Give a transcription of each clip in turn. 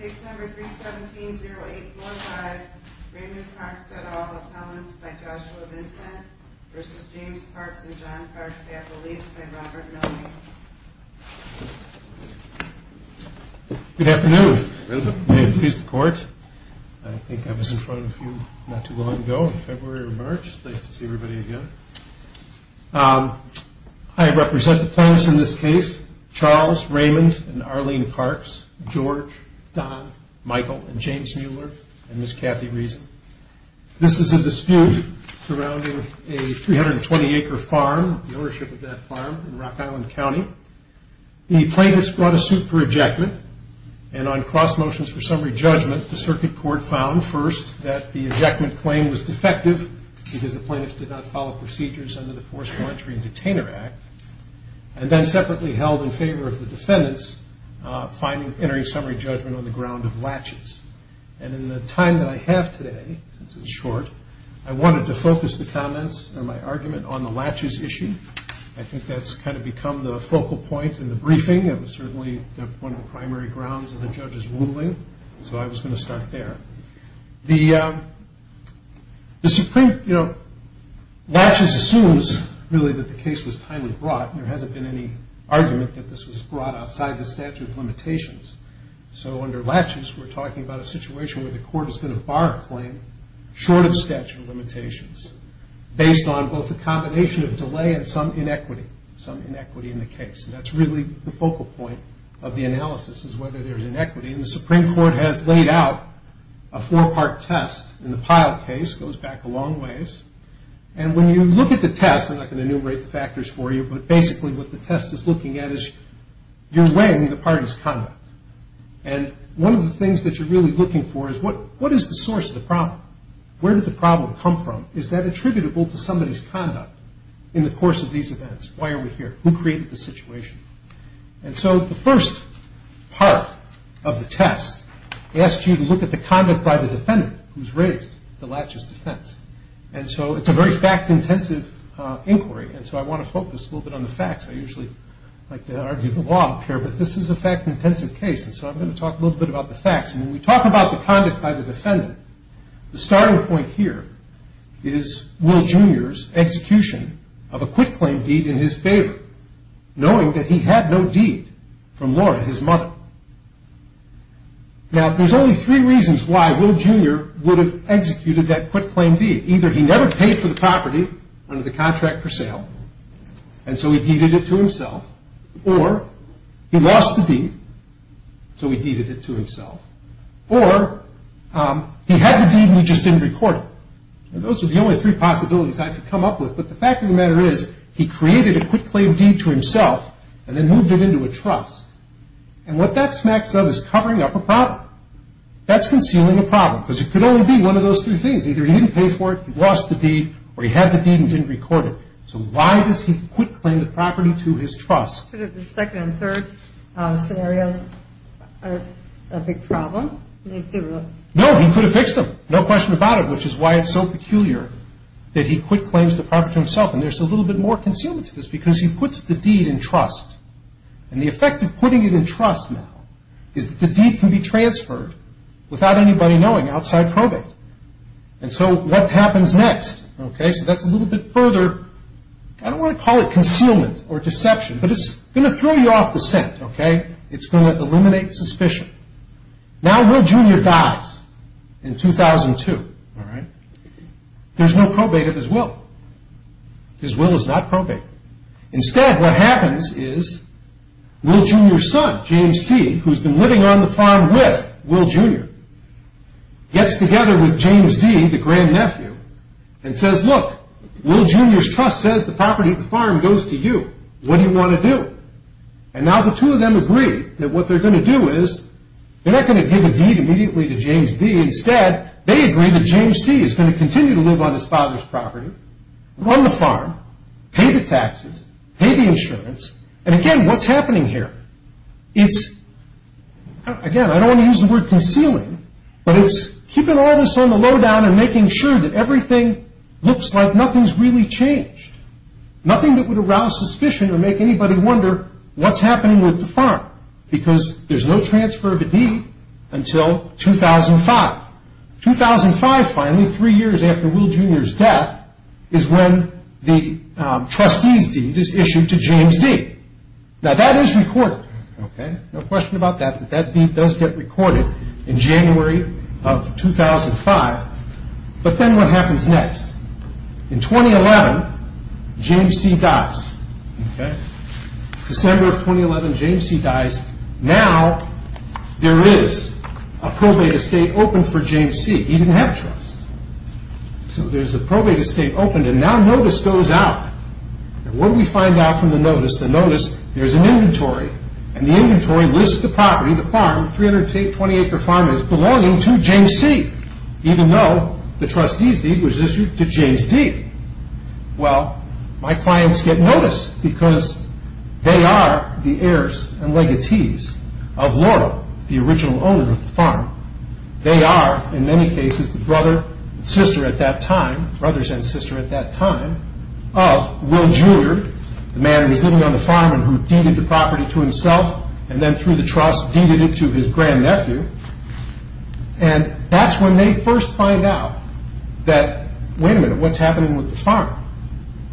Good afternoon. May it please the court. I think I was in front of you not too long ago in February or March. It's nice to see everybody again. I represent the plaintiffs in this case, Charles Raymond and Arlene Parks, George, Don, Michael and James Mueller and Ms. Kathy Reason. This is a dispute surrounding a 320 acre farm, the ownership of that farm in Rock Island County. The plaintiffs brought a suit for ejectment and on cross motions for summary judgment, the circuit court found first that the ejectment claim was defective because the plaintiffs did not follow procedures under the Forced Laundry and Detainer Act, and then separately held in favor of the defendants entering summary judgment on the ground of latches. And in the time that I have today, since it's short, I wanted to focus the comments and my argument on the latches issue. I think that's kind of become the focal point in the briefing. It was certainly one of the primary grounds of the judge's ruling, so I was going to start there. Latches assumes really that the case was timely brought. There hasn't been any argument that this was brought outside the statute of limitations. So under latches, we're talking about a situation where the court is going to bar a claim short of statute of limitations based on both a combination of delay and some inequity, some inequity in the case. And that's really the focal point of the analysis is whether there's inequity. And the Supreme Court has laid out a four-part test in the Pyle case, goes back a long ways. And when you look at the test, I'm not going to enumerate the factors for you, but basically what the test is looking at is you're weighing the parties' conduct. And one of the things that you're really looking for is what is the source of the problem? Where did the problem come from? Is that attributable to somebody's conduct in the course of these events? Why are we here? Who created the situation? And so the first part of the test asks you to look at the conduct by the defendant who's raised the latches defense. And so it's a very fact-intensive inquiry, and so I want to focus a little bit on the facts. I usually like to argue the law up here, but this is a fact-intensive case, and so I'm going to talk a little bit about the facts. And when we talk about the conduct by the defendant, the starting point here is Will Jr.'s execution of a quitclaim deed in his favor, knowing that he had no deed from Laura, his mother. Now, there's only three reasons why Will Jr. would have executed that quitclaim deed. Either he never paid for the property under the contract for sale, and so he deeded it to himself, or he lost the deed, so he deeded it to himself, or he had the deed and he just didn't report it. Those are the only three possibilities I could come up with, but the fact of the matter is he created a quitclaim deed to himself and then moved it into a trust, and what that smacks of is covering up a problem. That's concealing a problem, because it could only be one of those three things. Either he didn't pay for it, he lost the deed, or he had the deed and didn't record it. So why does he quitclaim the property to his trust? Could it have been second and third scenarios of a big problem? No, he could have fixed them, no question about it, which is why it's so peculiar that he quitclaims the property to himself. And there's a little bit more concealment to this, because he puts the deed in trust, and the effect of putting it in trust now is that the deed can be transferred without anybody knowing outside probate. And so what happens next? Okay, so that's a little bit further, I don't want to call it concealment or deception, but it's going to throw you off the scent, okay? It's going to eliminate suspicion. Now, Will Jr. dies in 2002. There's no probate of his will. His will is not probate. Instead, what happens is Will Jr.'s son, James C., who's been living on the farm with Will Jr., gets together with James D., the grandnephew, and says, Look, Will Jr.'s trust says the property of the farm goes to you. What do you want to do? And now the two of them agree that what they're going to do is, they're not going to give a deed immediately to James D. Instead, they agree that James C. is going to continue to live on his father's property, run the farm, pay the taxes, pay the insurance, and again, what's happening here? It's, again, I don't want to use the word concealing, but it's keeping all this on the lowdown and making sure that everything looks like nothing's really changed. Nothing that would arouse suspicion or make anybody wonder what's happening with the farm because there's no transfer of a deed until 2005. 2005, finally, three years after Will Jr.'s death, is when the trustee's deed is issued to James D. Now, that is recorded, okay? No question about that, that that deed does get recorded in January of 2005. But then what happens next? In 2011, James C. dies, okay? December of 2011, James C. dies. Now, there is a probate estate open for James C. He didn't have a trust, so there's a probate estate open, and now notice goes out. And what do we find out from the notice? The notice, there's an inventory, and the inventory lists the property, the farm, 320-acre farm is belonging to James C., even though the trustee's deed was issued to James D. Well, my clients get notice because they are the heirs and legatees of Laurel, the original owner of the farm. They are, in many cases, the brother and sister at that time, brothers and sister at that time, of Will Jr., the man who was living on the farm and who deeded the property to himself and then through the trust deeded it to his grandnephew. And that's when they first find out that, wait a minute, what's happening with the farm?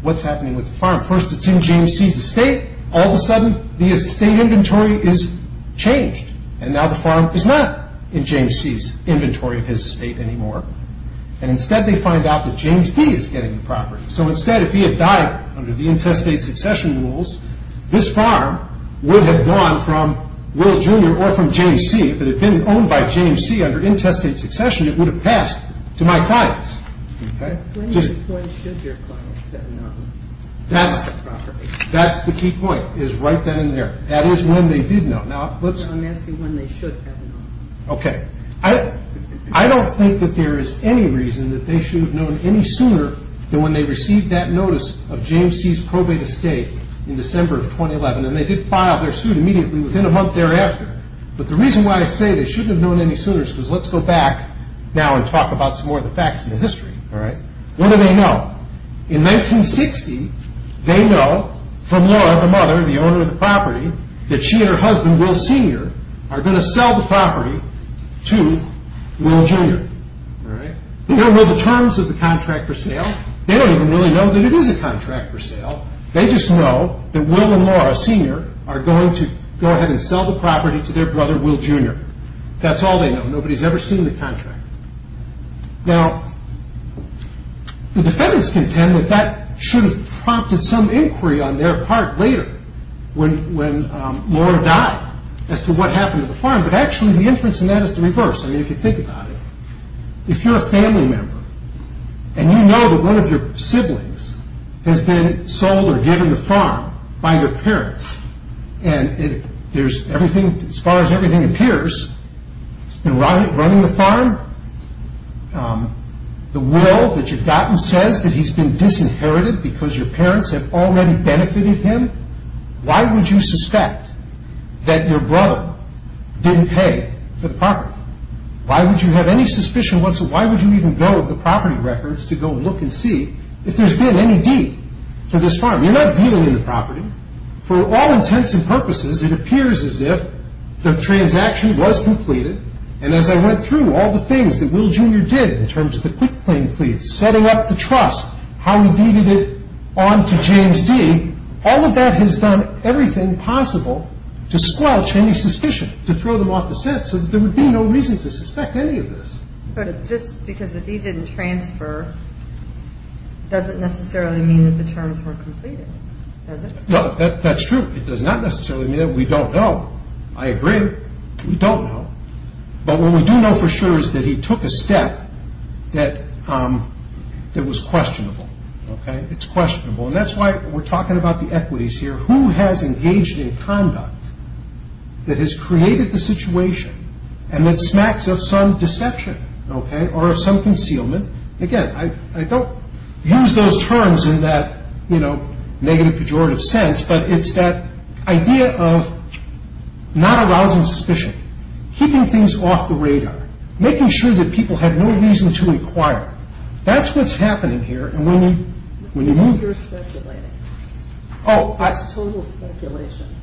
What's happening with the farm? First, it's in James C.'s estate. All of a sudden, the estate inventory is changed, and now the farm is not in James C.'s inventory of his estate anymore. And instead, they find out that James D. is getting the property. So instead, if he had died under the intestate succession rules, this farm would have gone from Will Jr. or from James C. If it had been owned by James C. under intestate succession, it would have passed to my clients. When should your clients have known about the property? That's the key point, is right then and there. That is when they did know. I'm asking when they should have known. Okay. I don't think that there is any reason that they should have known any sooner than when they received that notice of James C.'s probate estate in December of 2011, and they did file their suit immediately within a month thereafter. But the reason why I say they shouldn't have known any sooner is because let's go back now and talk about some more of the facts and the history. What do they know? In 1960, they know from Laura, the mother, the owner of the property, that she and her husband, Will Sr., are going to sell the property to Will Jr. They don't know the terms of the contract for sale. They don't even really know that it is a contract for sale. They just know that Will and Laura Sr. are going to go ahead and sell the property to their brother, Will Jr. That's all they know. Nobody has ever seen the contract. Now, the defendants contend that that should have prompted some inquiry on their part later when Laura died as to what happened to the farm, but actually the inference in that is the reverse. I mean, if you think about it, if you're a family member and you know that one of your siblings has been sold or given the farm by your parents and as far as everything appears, he's been running the farm, the will that you've gotten says that he's been disinherited because your parents have already benefited him, why would you suspect that your brother didn't pay for the property? Why would you have any suspicion whatsoever? Why would you even go to the property records to go and look and see if there's been any deed for this farm? You're not dealing in the property. For all intents and purposes, it appears as if the transaction was completed and as I went through all the things that Will Jr. did in terms of the quick claim plea, setting up the trust, how he deeded it on to James D., all of that has done everything possible to squelch any suspicion, to throw them off the set, so there would be no reason to suspect any of this. But just because the deed didn't transfer doesn't necessarily mean that the terms weren't completed, does it? No, that's true. It does not necessarily mean that. We don't know. I agree. We don't know. But what we do know for sure is that he took a step that was questionable. It's questionable, and that's why we're talking about the equities here. Who has engaged in conduct that has created the situation and that smacks of some deception or some concealment? Again, I don't use those terms in that negative pejorative sense, but it's that idea of not arousing suspicion, keeping things off the radar, making sure that people have no reason to inquire. That's what's happening here, and when you move. You're speculating. Oh. That's total speculation.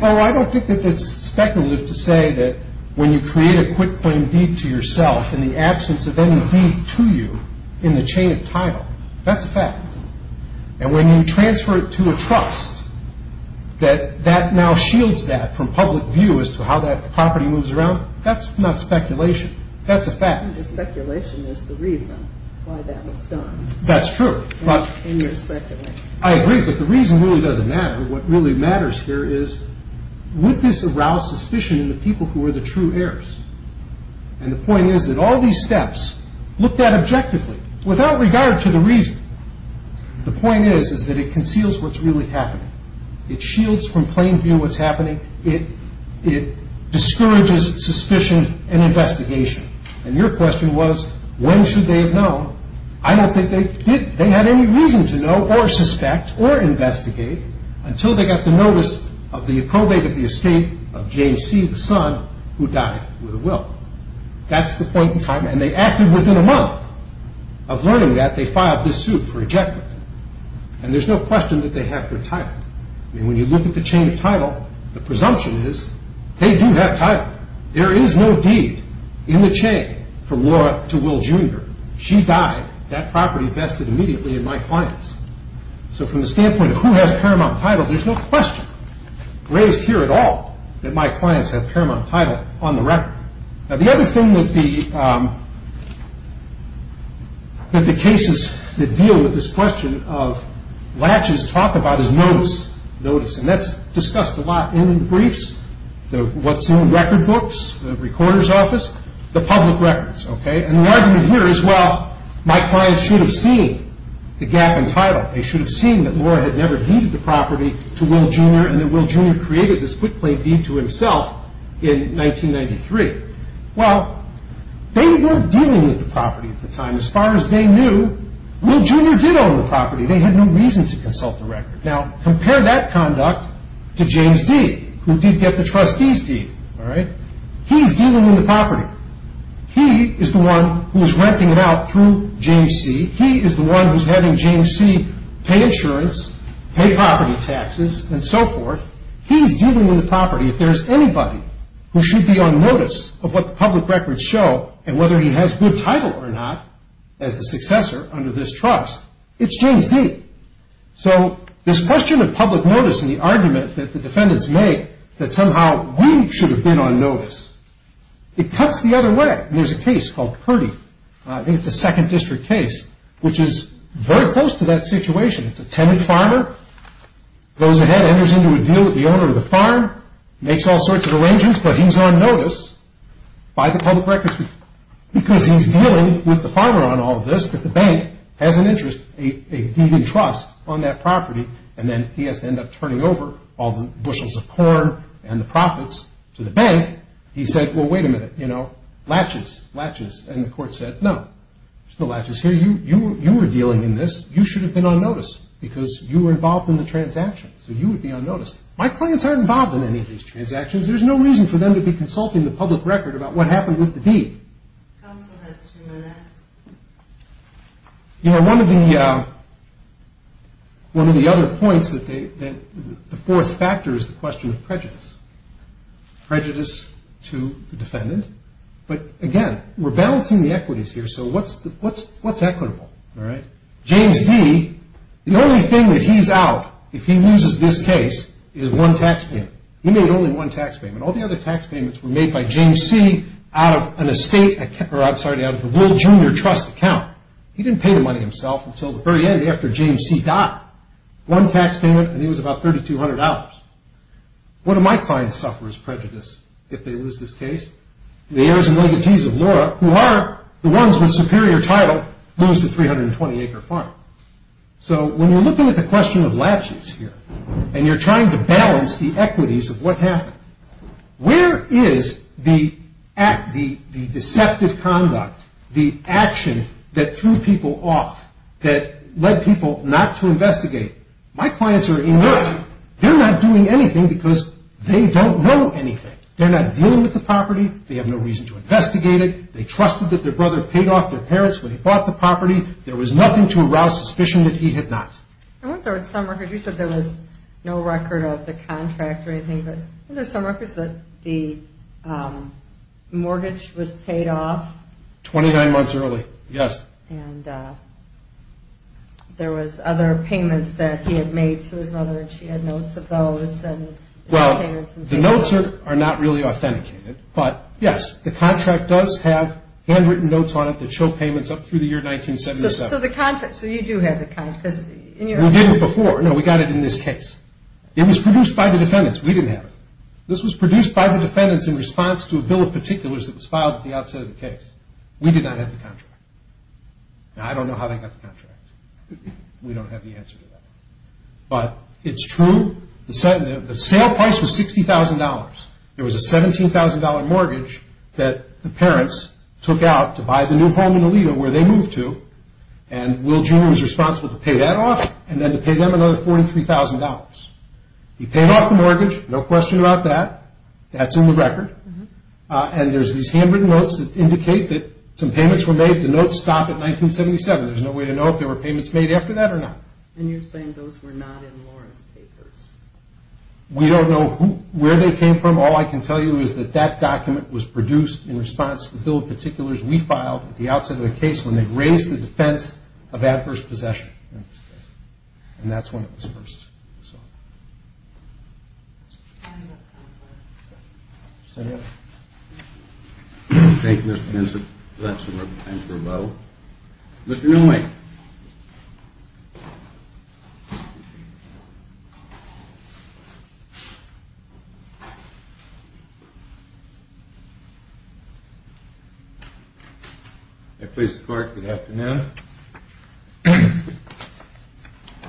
Oh, I don't think that that's speculative to say that when you create a quitclaim deed to yourself in the absence of any deed to you in the chain of title, that's a fact. And when you transfer it to a trust, that that now shields that from public view as to how that property moves around, that's not speculation. That's a fact. Speculation is the reason why that was done. That's true. In your speculation. I agree, but the reason really doesn't matter. What really matters here is would this arouse suspicion in the people who are the true heirs? And the point is that all these steps looked at objectively without regard to the reason. The point is that it conceals what's really happening. It shields from plain view what's happening. It discourages suspicion and investigation. And your question was when should they have known? I don't think they did. They had any reason to know or suspect or investigate until they got the notice of the probate of the estate of James C., the son, who died with a will. That's the point in time. And they acted within a month of learning that. They filed this suit for ejectment. And there's no question that they have their title. I mean, when you look at the chain of title, the presumption is they do have title. There is no deed in the chain from Laura to Will Jr. She died. That property vested immediately in my clients. So from the standpoint of who has paramount title, there's no question raised here at all that my clients have paramount title on the record. Now, the other thing that the cases that deal with this question of latches talk about is notice. And that's discussed a lot in briefs, what's in record books, the recorder's office, the public records. And the argument here is, well, my clients should have seen the gap in title. They should have seen that Laura had never deeded the property to Will Jr. and that Will Jr. created this quick-play deed to himself in 1993. Well, they weren't dealing with the property at the time. As far as they knew, Will Jr. did own the property. They had no reason to consult the record. Now, compare that conduct to James D., who did get the trustee's deed. He's dealing with the property. He is the one who is renting it out through James C. He is the one who is having James C. pay insurance, pay property taxes, and so forth. He's dealing with the property. If there's anybody who should be on notice of what the public records show and whether he has good title or not as the successor under this trust, it's James D. So this question of public notice and the argument that the defendants make that somehow we should have been on notice, it cuts the other way. There's a case called Purdy. I think it's a second district case, which is very close to that situation. It's a tenant farmer, goes ahead, enters into a deal with the owner of the farm, makes all sorts of arrangements, but he's on notice by the public records people because he's dealing with the farmer on all of this, but the bank has an interest, a deed in trust on that property, and then he has to end up turning over all the bushels of corn and the profits to the bank. He said, well, wait a minute, you know, latches, latches, and the court said no. There's no latches here. You were dealing in this. You should have been on notice because you were involved in the transaction, so you would be on notice. My clients aren't involved in any of these transactions. There's no reason for them to be consulting the public record about what happened with the deed. Counsel has two minutes. You know, one of the other points that the fourth factor is the question of prejudice, prejudice to the defendant, but again, we're balancing the equities here, so what's equitable, all right? James D., the only thing that he's out if he loses this case is one taxpayer. He made only one tax payment. All the other tax payments were made by James C. out of an estate, or I'm sorry, out of the Will Jr. Trust account. He didn't pay the money himself until the very end after James C. died. One tax payment, and he was about $3,200. One of my clients suffers prejudice if they lose this case. The heirs and legatees of Laura, who are the ones with superior title, lose the 320-acre farm. So when you're looking at the question of latches here and you're trying to balance the equities of what happened, where is the deceptive conduct, the action that threw people off, that led people not to investigate? My clients are inert. They're not doing anything because they don't know anything. They're not dealing with the property. They have no reason to investigate it. They trusted that their brother paid off their parents when he bought the property. There was nothing to arouse suspicion that he had not. You said there was no record of the contract or anything, but weren't there some records that the mortgage was paid off? Twenty-nine months early, yes. And there was other payments that he had made to his mother, and she had notes of those. Well, the notes are not really authenticated. But, yes, the contract does have handwritten notes on it that show payments up through the year 1977. So you do have the contract? We did it before. No, we got it in this case. It was produced by the defendants. We didn't have it. This was produced by the defendants in response to a bill of particulars that was filed at the outset of the case. We did not have the contract. Now, I don't know how they got the contract. We don't have the answer to that. But it's true. The sale price was $60,000. There was a $17,000 mortgage that the parents took out to buy the new home in Aledo, where they moved to, and Will Jr. was responsible to pay that off and then to pay them another $43,000. He paid off the mortgage, no question about that. That's in the record. And there's these handwritten notes that indicate that some payments were made. The notes stop at 1977. There's no way to know if there were payments made after that or not. And you're saying those were not in Lawrence's papers? We don't know where they came from. All I can tell you is that that document was produced in response to the bill of particulars we filed at the outset of the case when they raised the defense of adverse possession. And that's when it was first sought. Thank you, Mr. Benson. Thank you, Mr. Benson. We're going to time for a vote. Mr. Milne. May it please the Court, good afternoon.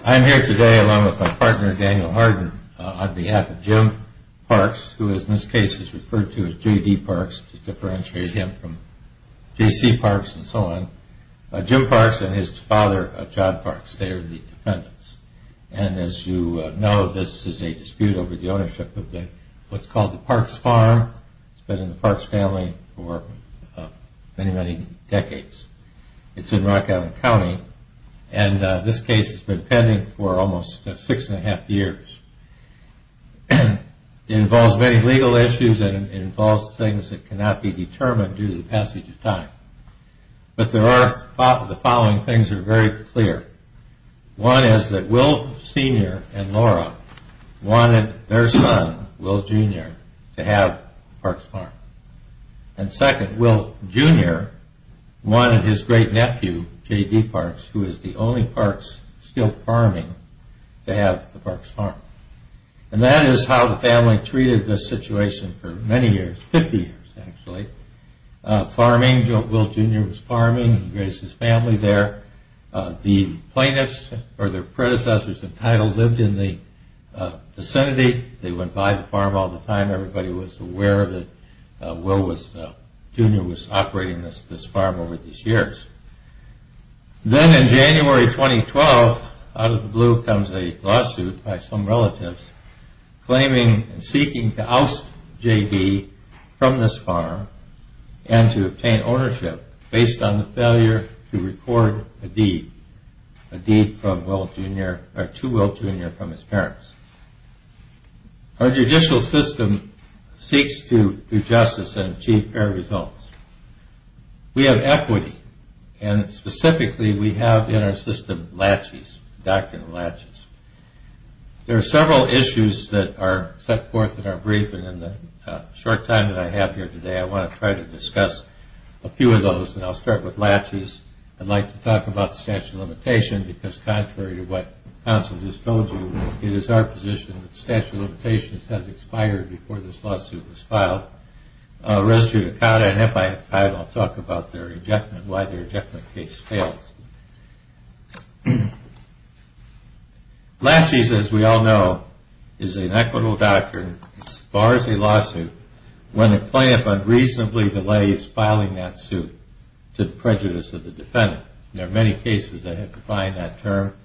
I'm here today along with my partner, Daniel Harden, on behalf of Jim Parks, who in this case is referred to as J.D. Parks to differentiate him from J.C. Parks and so on. Jim Parks and his father, John Parks, they are the defendants. And as you know, this is a dispute over the ownership of what's called the Parks Farm. It's been in the Parks family for many, many decades. It's in Rock Island County. And this case has been pending for almost six and a half years. It involves many legal issues and it involves things that cannot be determined due to the passage of time. But the following things are very clear. One is that Will Sr. and Laura wanted their son, Will Jr., to have the Parks Farm. And second, Will Jr. wanted his great nephew, J.D. Parks, who is the only Parks still farming, to have the Parks Farm. And that is how the family treated this situation for many years, 50 years actually. Farming, Will Jr. was farming. He raised his family there. The plaintiffs or their predecessors entitled lived in the vicinity. They went by the farm all the time. Everybody was aware that Will Jr. was operating this farm over these years. Then in January 2012, out of the blue comes a lawsuit by some relatives claiming and seeking to oust J.D. from this farm and to obtain ownership based on the failure to record a deed, a deed from Will Jr. or to Will Jr. from his parents. Our judicial system seeks to do justice and achieve fair results. We have equity, and specifically we have in our system latches, doctrinal latches. There are several issues that are set forth in our brief, and in the short time that I have here today I want to try to discuss a few of those, and I'll start with latches. I'd like to talk about the statute of limitations because contrary to what counsel just told you, it is our position that the statute of limitations has expired before this lawsuit was filed. I'll talk about their rejectment, why their rejectment case fails. Latches, as we all know, is an equitable doctrine as far as a lawsuit when a plaintiff unreasonably delays filing that suit to the prejudice of the defendant. There are many cases that have defined that term,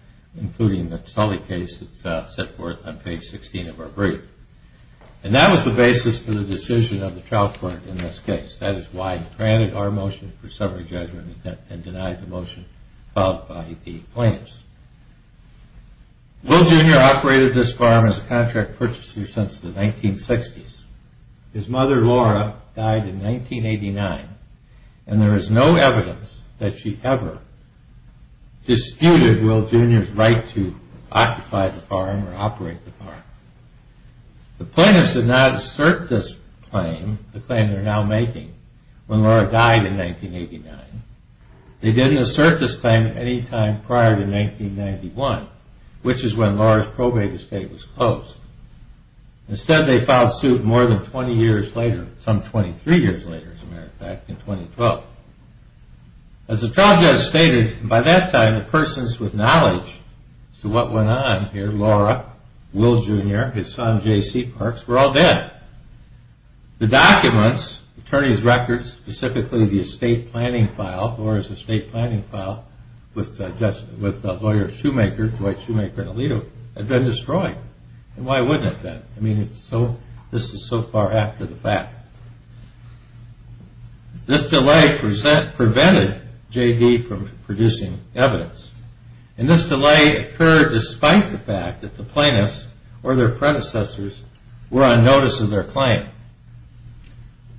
including the Sully case that's set forth on page 16 of our brief. And that was the basis for the decision of the trial court in this case. That is why it granted our motion for summary judgment and denied the motion filed by the plaintiffs. Will Jr. operated this farm as a contract purchaser since the 1960s. His mother, Laura, died in 1989, and there is no evidence that she ever disputed Will Jr.'s right to occupy the farm or operate the farm. The plaintiffs did not assert this claim, the claim they're now making, when Laura died in 1989. They didn't assert this claim at any time prior to 1991, which is when Laura's probate estate was closed. Instead, they filed suit more than 20 years later, some 23 years later, as a matter of fact, in 2012. As the trial judge stated, by that time, the persons with knowledge to what went on here, Laura, Will Jr., his son J.C. Parks, were all dead. The documents, attorney's records, specifically the estate planning file, Laura's estate planning file with the lawyer Shoemaker, Dwight Shoemaker and Alito, had been destroyed. And why wouldn't it have been? I mean, this is so far after the fact. This delay prevented J.D. from producing evidence. And this delay occurred despite the fact that the plaintiffs or their predecessors were on notice of their claim.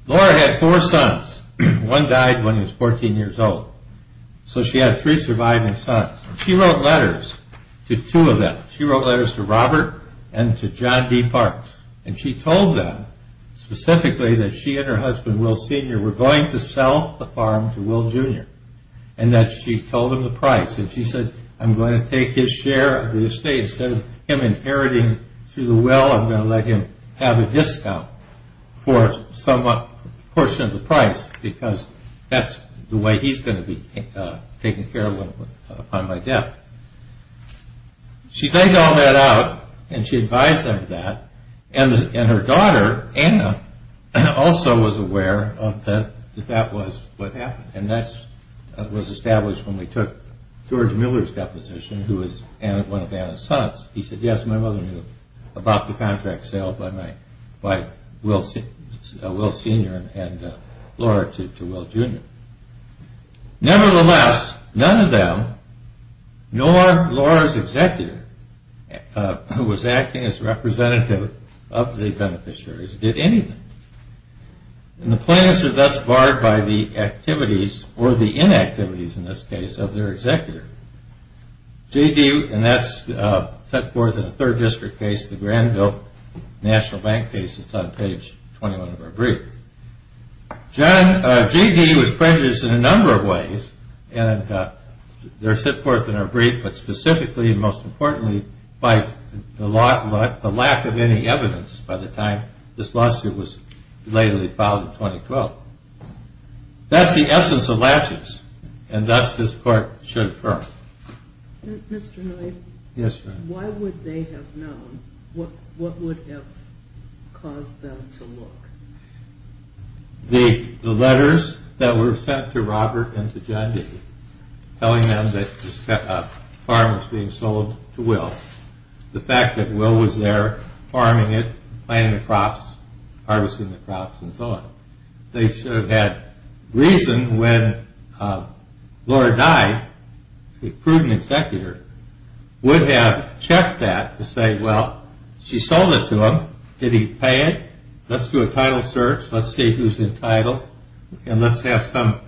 Laura had four sons. One died when he was 14 years old. So she had three surviving sons. She wrote letters to two of them. She wrote letters to Robert and to John D. Parks. And she told them specifically that she and her husband, Will Sr., were going to sell the farm to Will Jr. And that she told him the price. And she said, I'm going to take his share of the estate. Instead of him inheriting through the will, I'm going to let him have a discount for some portion of the price. Because that's the way he's going to be taken care of upon my death. She dug all that out and she advised them of that. And her daughter, Anna, also was aware that that was what happened. And that was established when we took George Miller's deposition, who was one of Anna's sons. He said, yes, my mother knew about the contract sale by Will Sr. and Laura to Will Jr. Nevertheless, none of them, nor Laura's executor, who was acting as representative of the beneficiaries, did anything. And the plaintiffs are thus barred by the activities, or the inactivities in this case, of their executor. J.D., and that's set forth in a third district case, the Granville National Bank case. It's on page 21 of our brief. J.D. was prejudiced in a number of ways. And they're set forth in our brief, but specifically, most importantly, by the lack of any evidence by the time this lawsuit was legally filed in 2012. That's the essence of latches, and thus this court should affirm. Mr. Knight, why would they have known? What would have caused them to look? The letters that were sent to Robert and to John D., telling them that a farm was being sold to Will. The fact that Will was there farming it, planting the crops, harvesting the crops, and so on. They should have had reason when Laura died, the prudent executor, would have checked that to say, well, she sold it to him, did he pay it? Let's do a title search, let's see who's entitled, and let's have some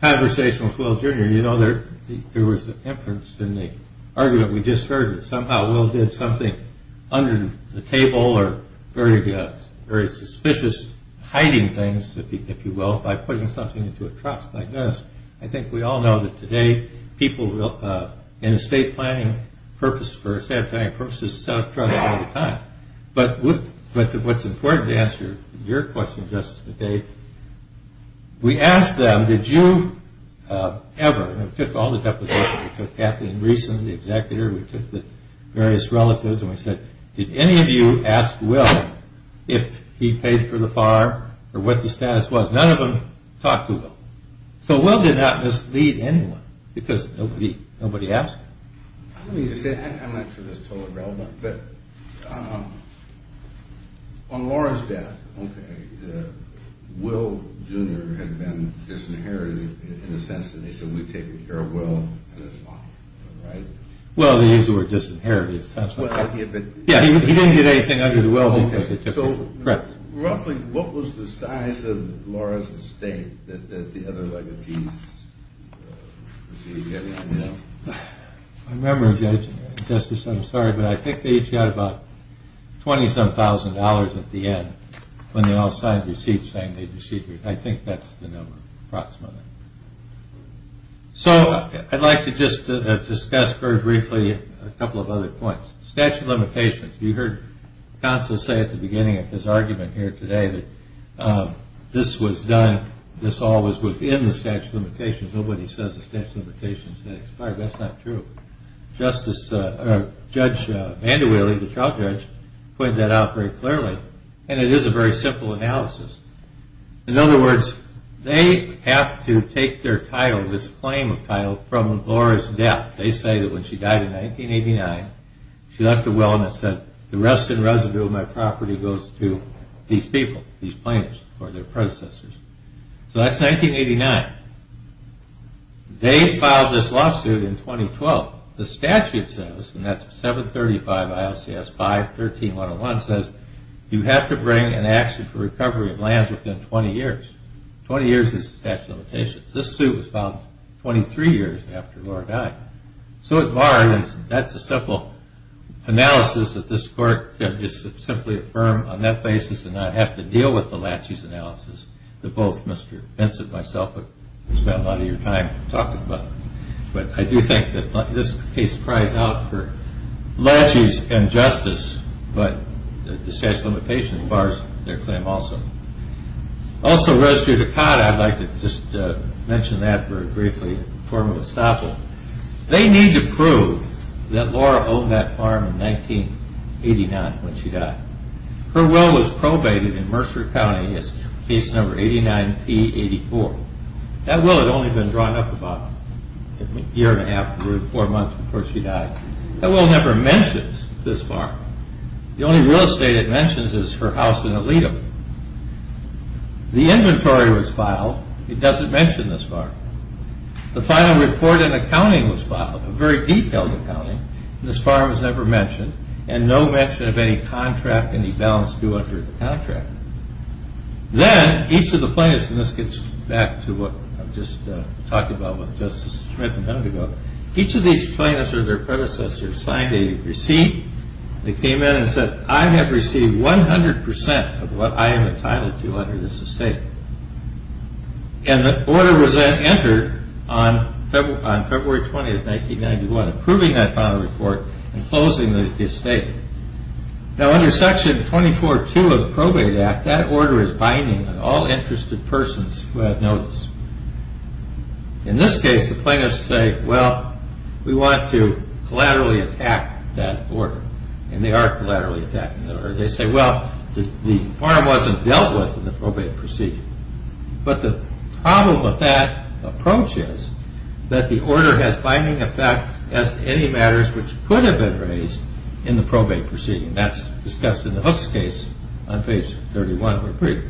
conversation with Will Jr. You know, there was an inference in the argument we just heard that somehow Will did something under the table or very suspicious, hiding things, if you will, by putting something into a trough like this. I think we all know that today, people in estate planning purposes set up troughs all the time, but what's important to answer your question, Justice McKay, we asked them, did you ever, we took all the deposition, we took Kathleen Greeson, the executor, we took the various relatives, and we said, did any of you ask Will if he paid for the farm or what the status was? None of them talked to Will. So Will did not mislead anyone, because nobody asked him. Let me just say, I'm not sure this is totally relevant, but on Laura's death, Will Jr. had been disinherited in the sense that they said, we've taken care of Will and his mom, right? Well, they used the word disinherited, it sounds like. Yeah, he didn't get anything under the will. Roughly, what was the size of Laura's estate that the other legacies received? I remember, Justice, I'm sorry, but I think they each got about 20-some thousand dollars at the end, when they all signed receipts saying they received, I think that's the number, approximately. So, I'd like to just discuss very briefly a couple of other points. Statute of limitations. You heard Constance say at the beginning of this argument here today that this was done, this all was within the statute of limitations. Nobody says the statute of limitations has expired. That's not true. Justice, Judge Vander Wille, the trial judge, pointed that out very clearly, and it is a very simple analysis. In other words, they have to take their title, this claim of title, from Laura's death. They say that when she died in 1989, she left a will and it said, the rest and residue of my property goes to these people, these plaintiffs, or their predecessors. So that's 1989. They filed this lawsuit in 2012. The statute says, and that's 735 ILCS 5-13-101, says, you have to bring an action for recovery of lands within 20 years. 20 years is the statute of limitations. This suit was filed 23 years after Laura died. So it's barred, and that's a simple analysis that this court can just simply affirm on that basis and not have to deal with the laches analysis that both Mr. Vincent and myself have spent a lot of your time talking about. But I do think that this case cries out for laches and justice, but the statute of limitations bars their claim also. Also, residue to cot, I'd like to just mention that very briefly in the form of estoppel. They need to prove that Laura owned that farm in 1989 when she died. Her will was probated in Mercer County as case number 89-P-84. That will had only been drawn up about a year and a half to four months before she died. That will never mentions this farm. The only real estate it mentions is her house in Aledo. The inventory was filed. It doesn't mention this farm. The final report and accounting was filed, a very detailed accounting. This farm was never mentioned, and no mention of any contract, any balance due under the contract. Then, each of the plaintiffs, and this gets back to what I've just talked about with Justice Schmidt and Dundago. Each of these plaintiffs or their predecessors signed a receipt. They came in and said, I have received 100% of what I am entitled to under this estate. The order was then entered on February 20, 1991, approving that final report and closing the estate. Under Section 24-2 of the Probate Act, that order is binding on all interested persons who have notice. In this case, the plaintiffs say, well, we want to collaterally attack that order. And they are collaterally attacking the order. They say, well, the farm wasn't dealt with in the probate proceeding. But the problem with that approach is that the order has binding effect as to any matters which could have been raised in the probate proceeding. That's discussed in the Hooks case on page 31 of the brief.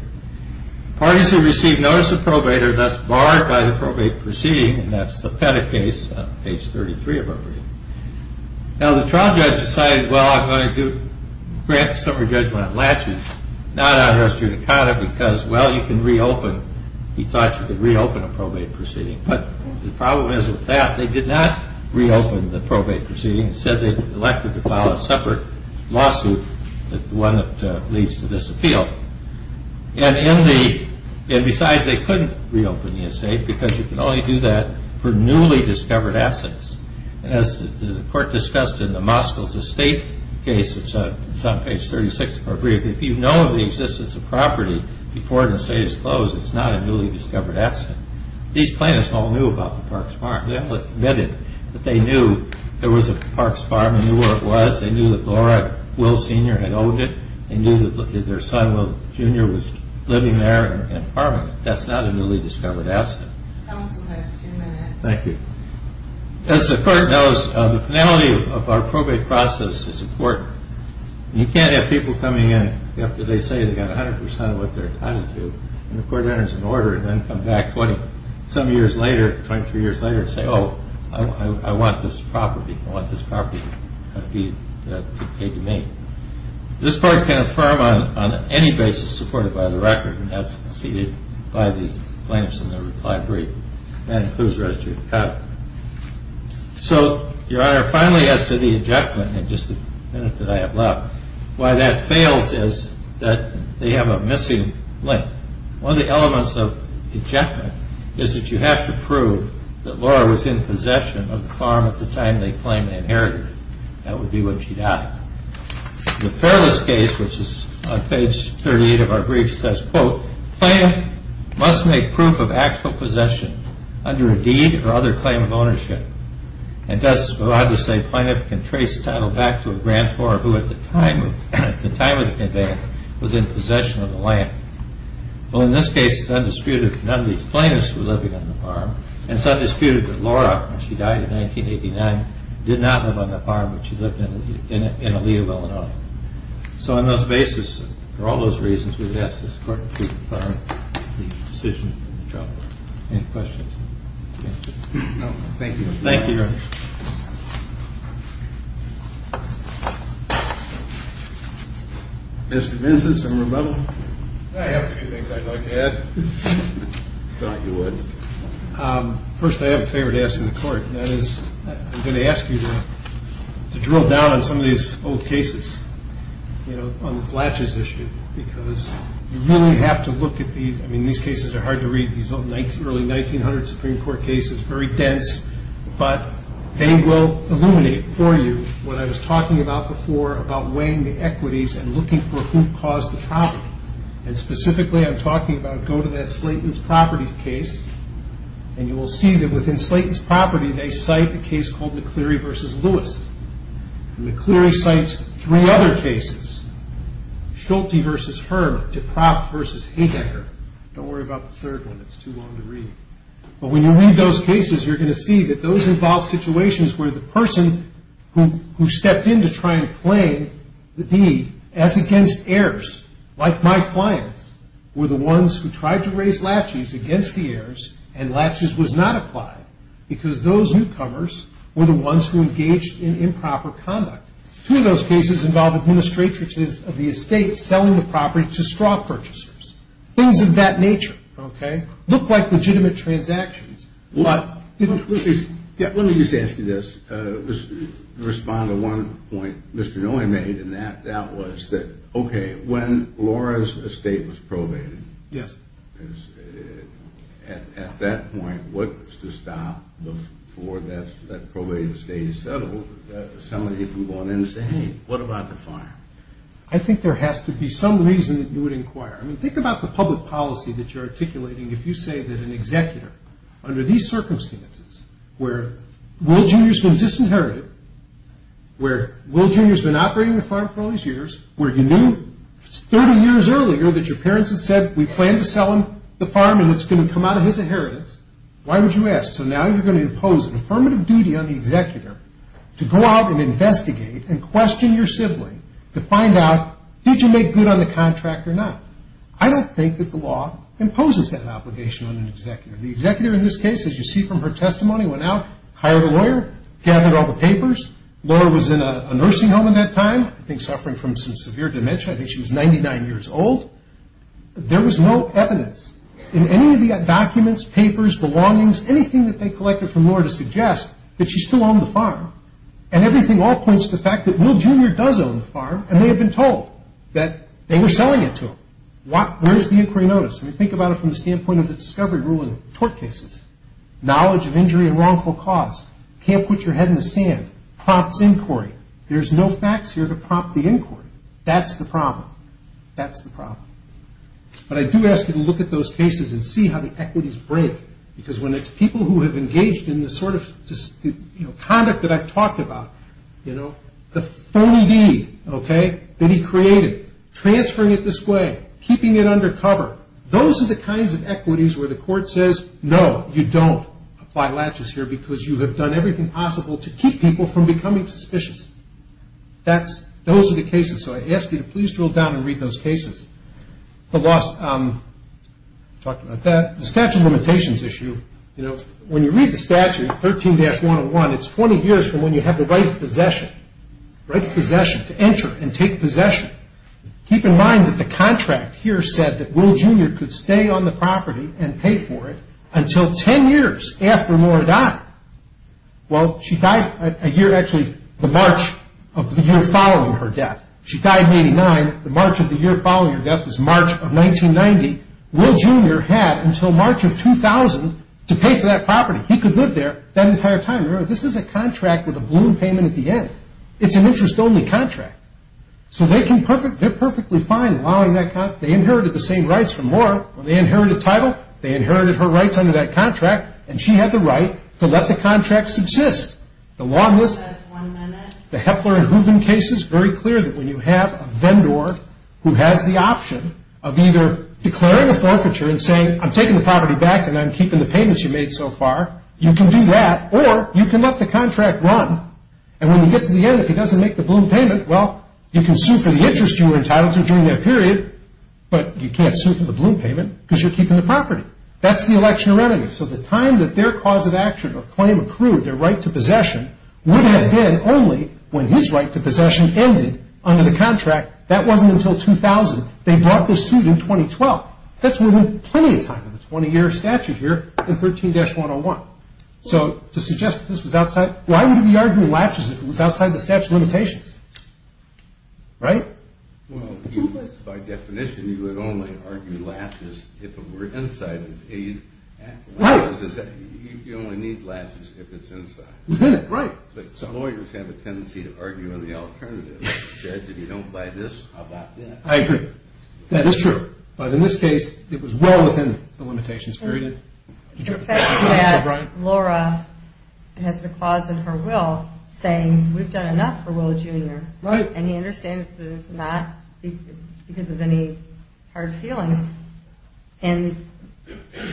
Parties who receive notice of probate are thus barred by the probate proceeding, and that's the Pettit case on page 33 of our brief. Now, the trial judge decided, well, I'm going to grant the summary judgment on latches, not on arrest due to conduct, because, well, you can reopen, he thought you could reopen a probate proceeding. But the problem is with that, they did not reopen the probate proceeding. Instead, they elected to file a separate lawsuit, the one that leads to this appeal. And besides, they couldn't reopen the estate because you can only do that for newly discovered assets. As the court discussed in the Moskos estate case, it's on page 36 of our brief, if you know the existence of property before the estate is closed, it's not a newly discovered asset. These plaintiffs all knew about the Parks Farm. They all admitted that they knew there was a Parks Farm and knew where it was. They knew that Laura Will Sr. had owned it. They knew that their son, Will Jr., was living there and farming it. That's not a newly discovered asset. Counsel has two minutes. Thank you. As the court knows, the finality of our probate process is important. You can't have people coming in after they say they got 100% of what they're entitled to, and the court enters an order and then come back 20, some years later, 23 years later, and say, oh, I want this property. I want this property to be paid to me. This court can affirm on any basis supported by the record, and that's conceded by the plaintiffs in their reply brief. That includes residue of account. So, Your Honor, finally, as to the ejectment, in just the minute that I have left, why that fails is that they have a missing link. One of the elements of ejectment is that you have to prove that Laura was in possession of the farm at the time they claimed to inherit it. That would be what she died. The Fairless case, which is on page 38 of our brief, says, quote, plaintiff must make proof of actual possession under a deed or other claim of ownership. And thus, we're allowed to say plaintiff can trace the title back to a grantor who, at the time of the conveyance, was in possession of the land. Well, in this case, it's undisputed that none of these plaintiffs were living on the farm, and it's undisputed that Laura, when she died in 1989, did not live on the farm, but she lived in Alia, Illinois. So on this basis, for all those reasons, we would ask this court to confirm the decision in the trial. Any questions? Thank you. Thank you. Mr. Benson, some rebuttal? I have a few things I'd like to add. I thought you would. First, I have a favor to ask of the court, and that is I'm going to ask you to drill down on some of these old cases, you know, on the Flatches issue, because you really have to look at these. I mean, these cases are hard to read, these early 1900 Supreme Court cases, very dense, but they will illuminate for you what I was talking about before about weighing the equities and looking for who caused the problem. And specifically, I'm talking about go to that Slayton's property case, and you will see that within Slayton's property, they cite a case called McCleary v. Lewis. And McCleary cites three other cases, Schulte v. Herman, Dekroff v. Haydecker. Don't worry about the third one. It's too long to read. But when you read those cases, you're going to see that those involve situations where the person who stepped in to try and claim the deed, as against heirs, like my clients, were the ones who tried to raise Latches against the heirs, and Latches was not applied because those newcomers were the ones who engaged in improper conduct. Two of those cases involve administrators of the estate selling the property to straw purchasers. Things of that nature, okay, look like legitimate transactions. Let me just ask you this. Respond to one point Mr. Noy made, and that was that, okay, when Laura's estate was probated, at that point, what was to stop before that probated estate is settled, somebody from going in and saying, hey, what about the farm? I think there has to be some reason that you would inquire. I mean, think about the public policy that you're articulating if you say that an executor, under these circumstances, where Will Jr. has been disinherited, where Will Jr. has been operating the farm for all these years, where you knew 30 years earlier that your parents had said we plan to sell him the farm and it's going to come out of his inheritance, why would you ask? So now you're going to impose an affirmative duty on the executor to go out and investigate and question your sibling to find out did you make good on the contract or not. I don't think that the law imposes that obligation on an executor. The executor in this case, as you see from her testimony, went out, hired a lawyer, gathered all the papers. The lawyer was in a nursing home at that time, I think suffering from some severe dementia. I think she was 99 years old. There was no evidence in any of the documents, papers, belongings, anything that they collected from Laura to suggest that she still owned the farm. And everything all points to the fact that Will Jr. does own the farm and they have been told that they were selling it to him. Where is the inquiry notice? I mean, think about it from the standpoint of the discovery rule in tort cases. Knowledge of injury and wrongful cause. You can't put your head in the sand. Prompts inquiry. There's no facts here to prompt the inquiry. That's the problem. That's the problem. But I do ask you to look at those cases and see how the equities break because when it's people who have engaged in the sort of conduct that I've talked about, the phony deed that he created, transferring it this way, keeping it under cover, those are the kinds of equities where the court says, no, you don't apply latches here because you have done everything possible to keep people from becoming suspicious. Those are the cases. So I ask you to please drill down and read those cases. The statute of limitations issue. When you read the statute, 13-101, it's 20 years from when you have the right of possession, right of possession to enter and take possession. Keep in mind that the contract here said that Will Jr. could stay on the property and pay for it until 10 years after Nora died. Well, she died a year, actually, the March of the year following her death. She died in 89. The March of the year following her death was March of 1990. Will Jr. had until March of 2000 to pay for that property. He could live there that entire time. Remember, this is a contract with a balloon payment at the end. It's an interest-only contract. So they're perfectly fine allowing that contract. They inherited the same rights from Nora. When they inherited title, they inherited her rights under that contract, and she had the right to let the contract subsist. The long list, the Hepler and Hooven cases, very clear that when you have a vendor who has the option of either declaring a forfeiture and saying, I'm taking the property back and I'm keeping the payments you made so far, you can do that or you can let the contract run. And when you get to the end, if he doesn't make the balloon payment, well, you can sue for the interest you were entitled to during that period, but you can't sue for the balloon payment because you're keeping the property. That's the election remedy. So the time that their cause of action or claim accrued, their right to possession, would have been only when his right to possession ended under the contract. That wasn't until 2000. They brought this suit in 2012. That's more than plenty of time in the 20-year statute here in 13-101. So to suggest that this was outside, why would he be arguing latches if it was outside the statute of limitations? Right? Well, by definition, you would only argue latches if it were inside the paid act. Right. You only need latches if it's inside. Right. But some lawyers have a tendency to argue on the alternative. Judge, if you don't buy this, I'll buy that. I agree. That is true. But in this case, it was well within the limitations period. The fact that Laura has the clause in her will saying, we've done enough for Will Jr. Right. And he understands that it's not because of any hard feelings. And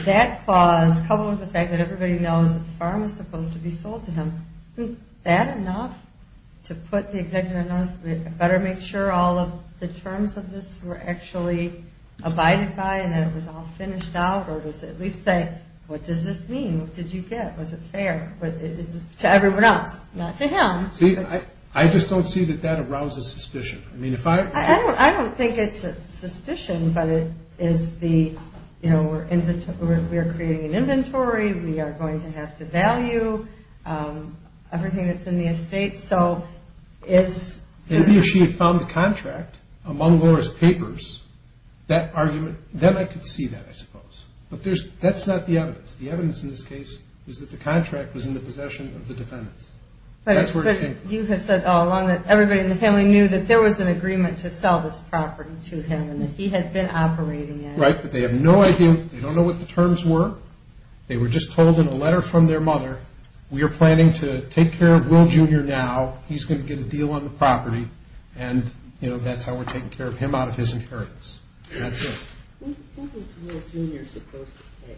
that clause, coupled with the fact that everybody knows that the farm is supposed to be sold to him, isn't that enough to put the executive in notice, better make sure all of the terms of this were actually abided by and that it was all finished out, or at least say, what does this mean? What did you get? Was it fair? To everyone else. Not to him. See, I just don't see that that arouses suspicion. I don't think it's a suspicion, but it is the, you know, we're creating an inventory, we are going to have to value everything that's in the estate. Maybe if she had found the contract among Laura's papers, that argument, then I could see that, I suppose. But that's not the evidence. The evidence in this case is that the contract was in the possession of the defendants. That's where it came from. But you have said all along that everybody in the family knew that there was an agreement to sell this property to him and that he had been operating it. Right, but they have no idea. They don't know what the terms were. They were just told in a letter from their mother, we are planning to take care of Will Jr. now. He's going to get a deal on the property, and, you know, that's how we're taking care of him out of his inheritance. That's it. Who was Will Jr. supposed to pay?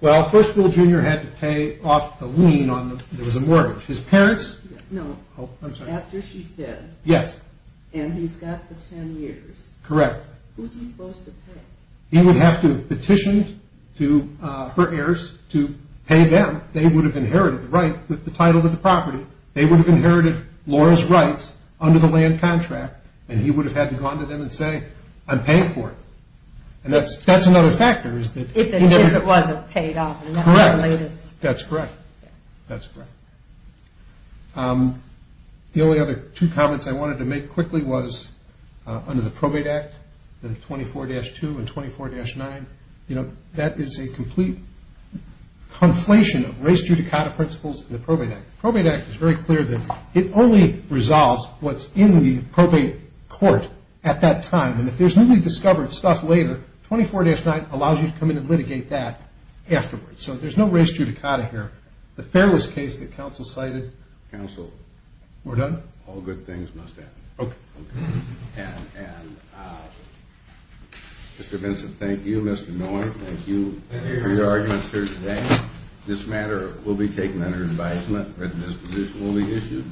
Well, first Will Jr. had to pay off the lien on the mortgage. His parents. No. Oh, I'm sorry. After she's dead. Yes. And he's got the ten years. Correct. Who's he supposed to pay? He would have to have petitioned to her heirs to pay them. They would have inherited the title of the property. They would have inherited Laurel's rights under the land contract, and he would have had to go on to them and say, I'm paying for it. And that's another factor. If it wasn't paid off. Correct. That's correct. That's correct. The only other two comments I wanted to make quickly was, under the Probate Act, 24-2 and 24-9, that is a complete conflation of race judicata principles in the Probate Act. The Probate Act is very clear that it only resolves what's in the probate court at that time. And if there's newly discovered stuff later, 24-9 allows you to come in and litigate that afterwards. So there's no race judicata here. The Fairless case that counsel cited. Counsel. We're done? All good things must end. Okay. And Mr. Vincent, thank you. Mr. Miller, thank you for your arguments here today. This matter will be taken under advisement. A written disposition will be issued.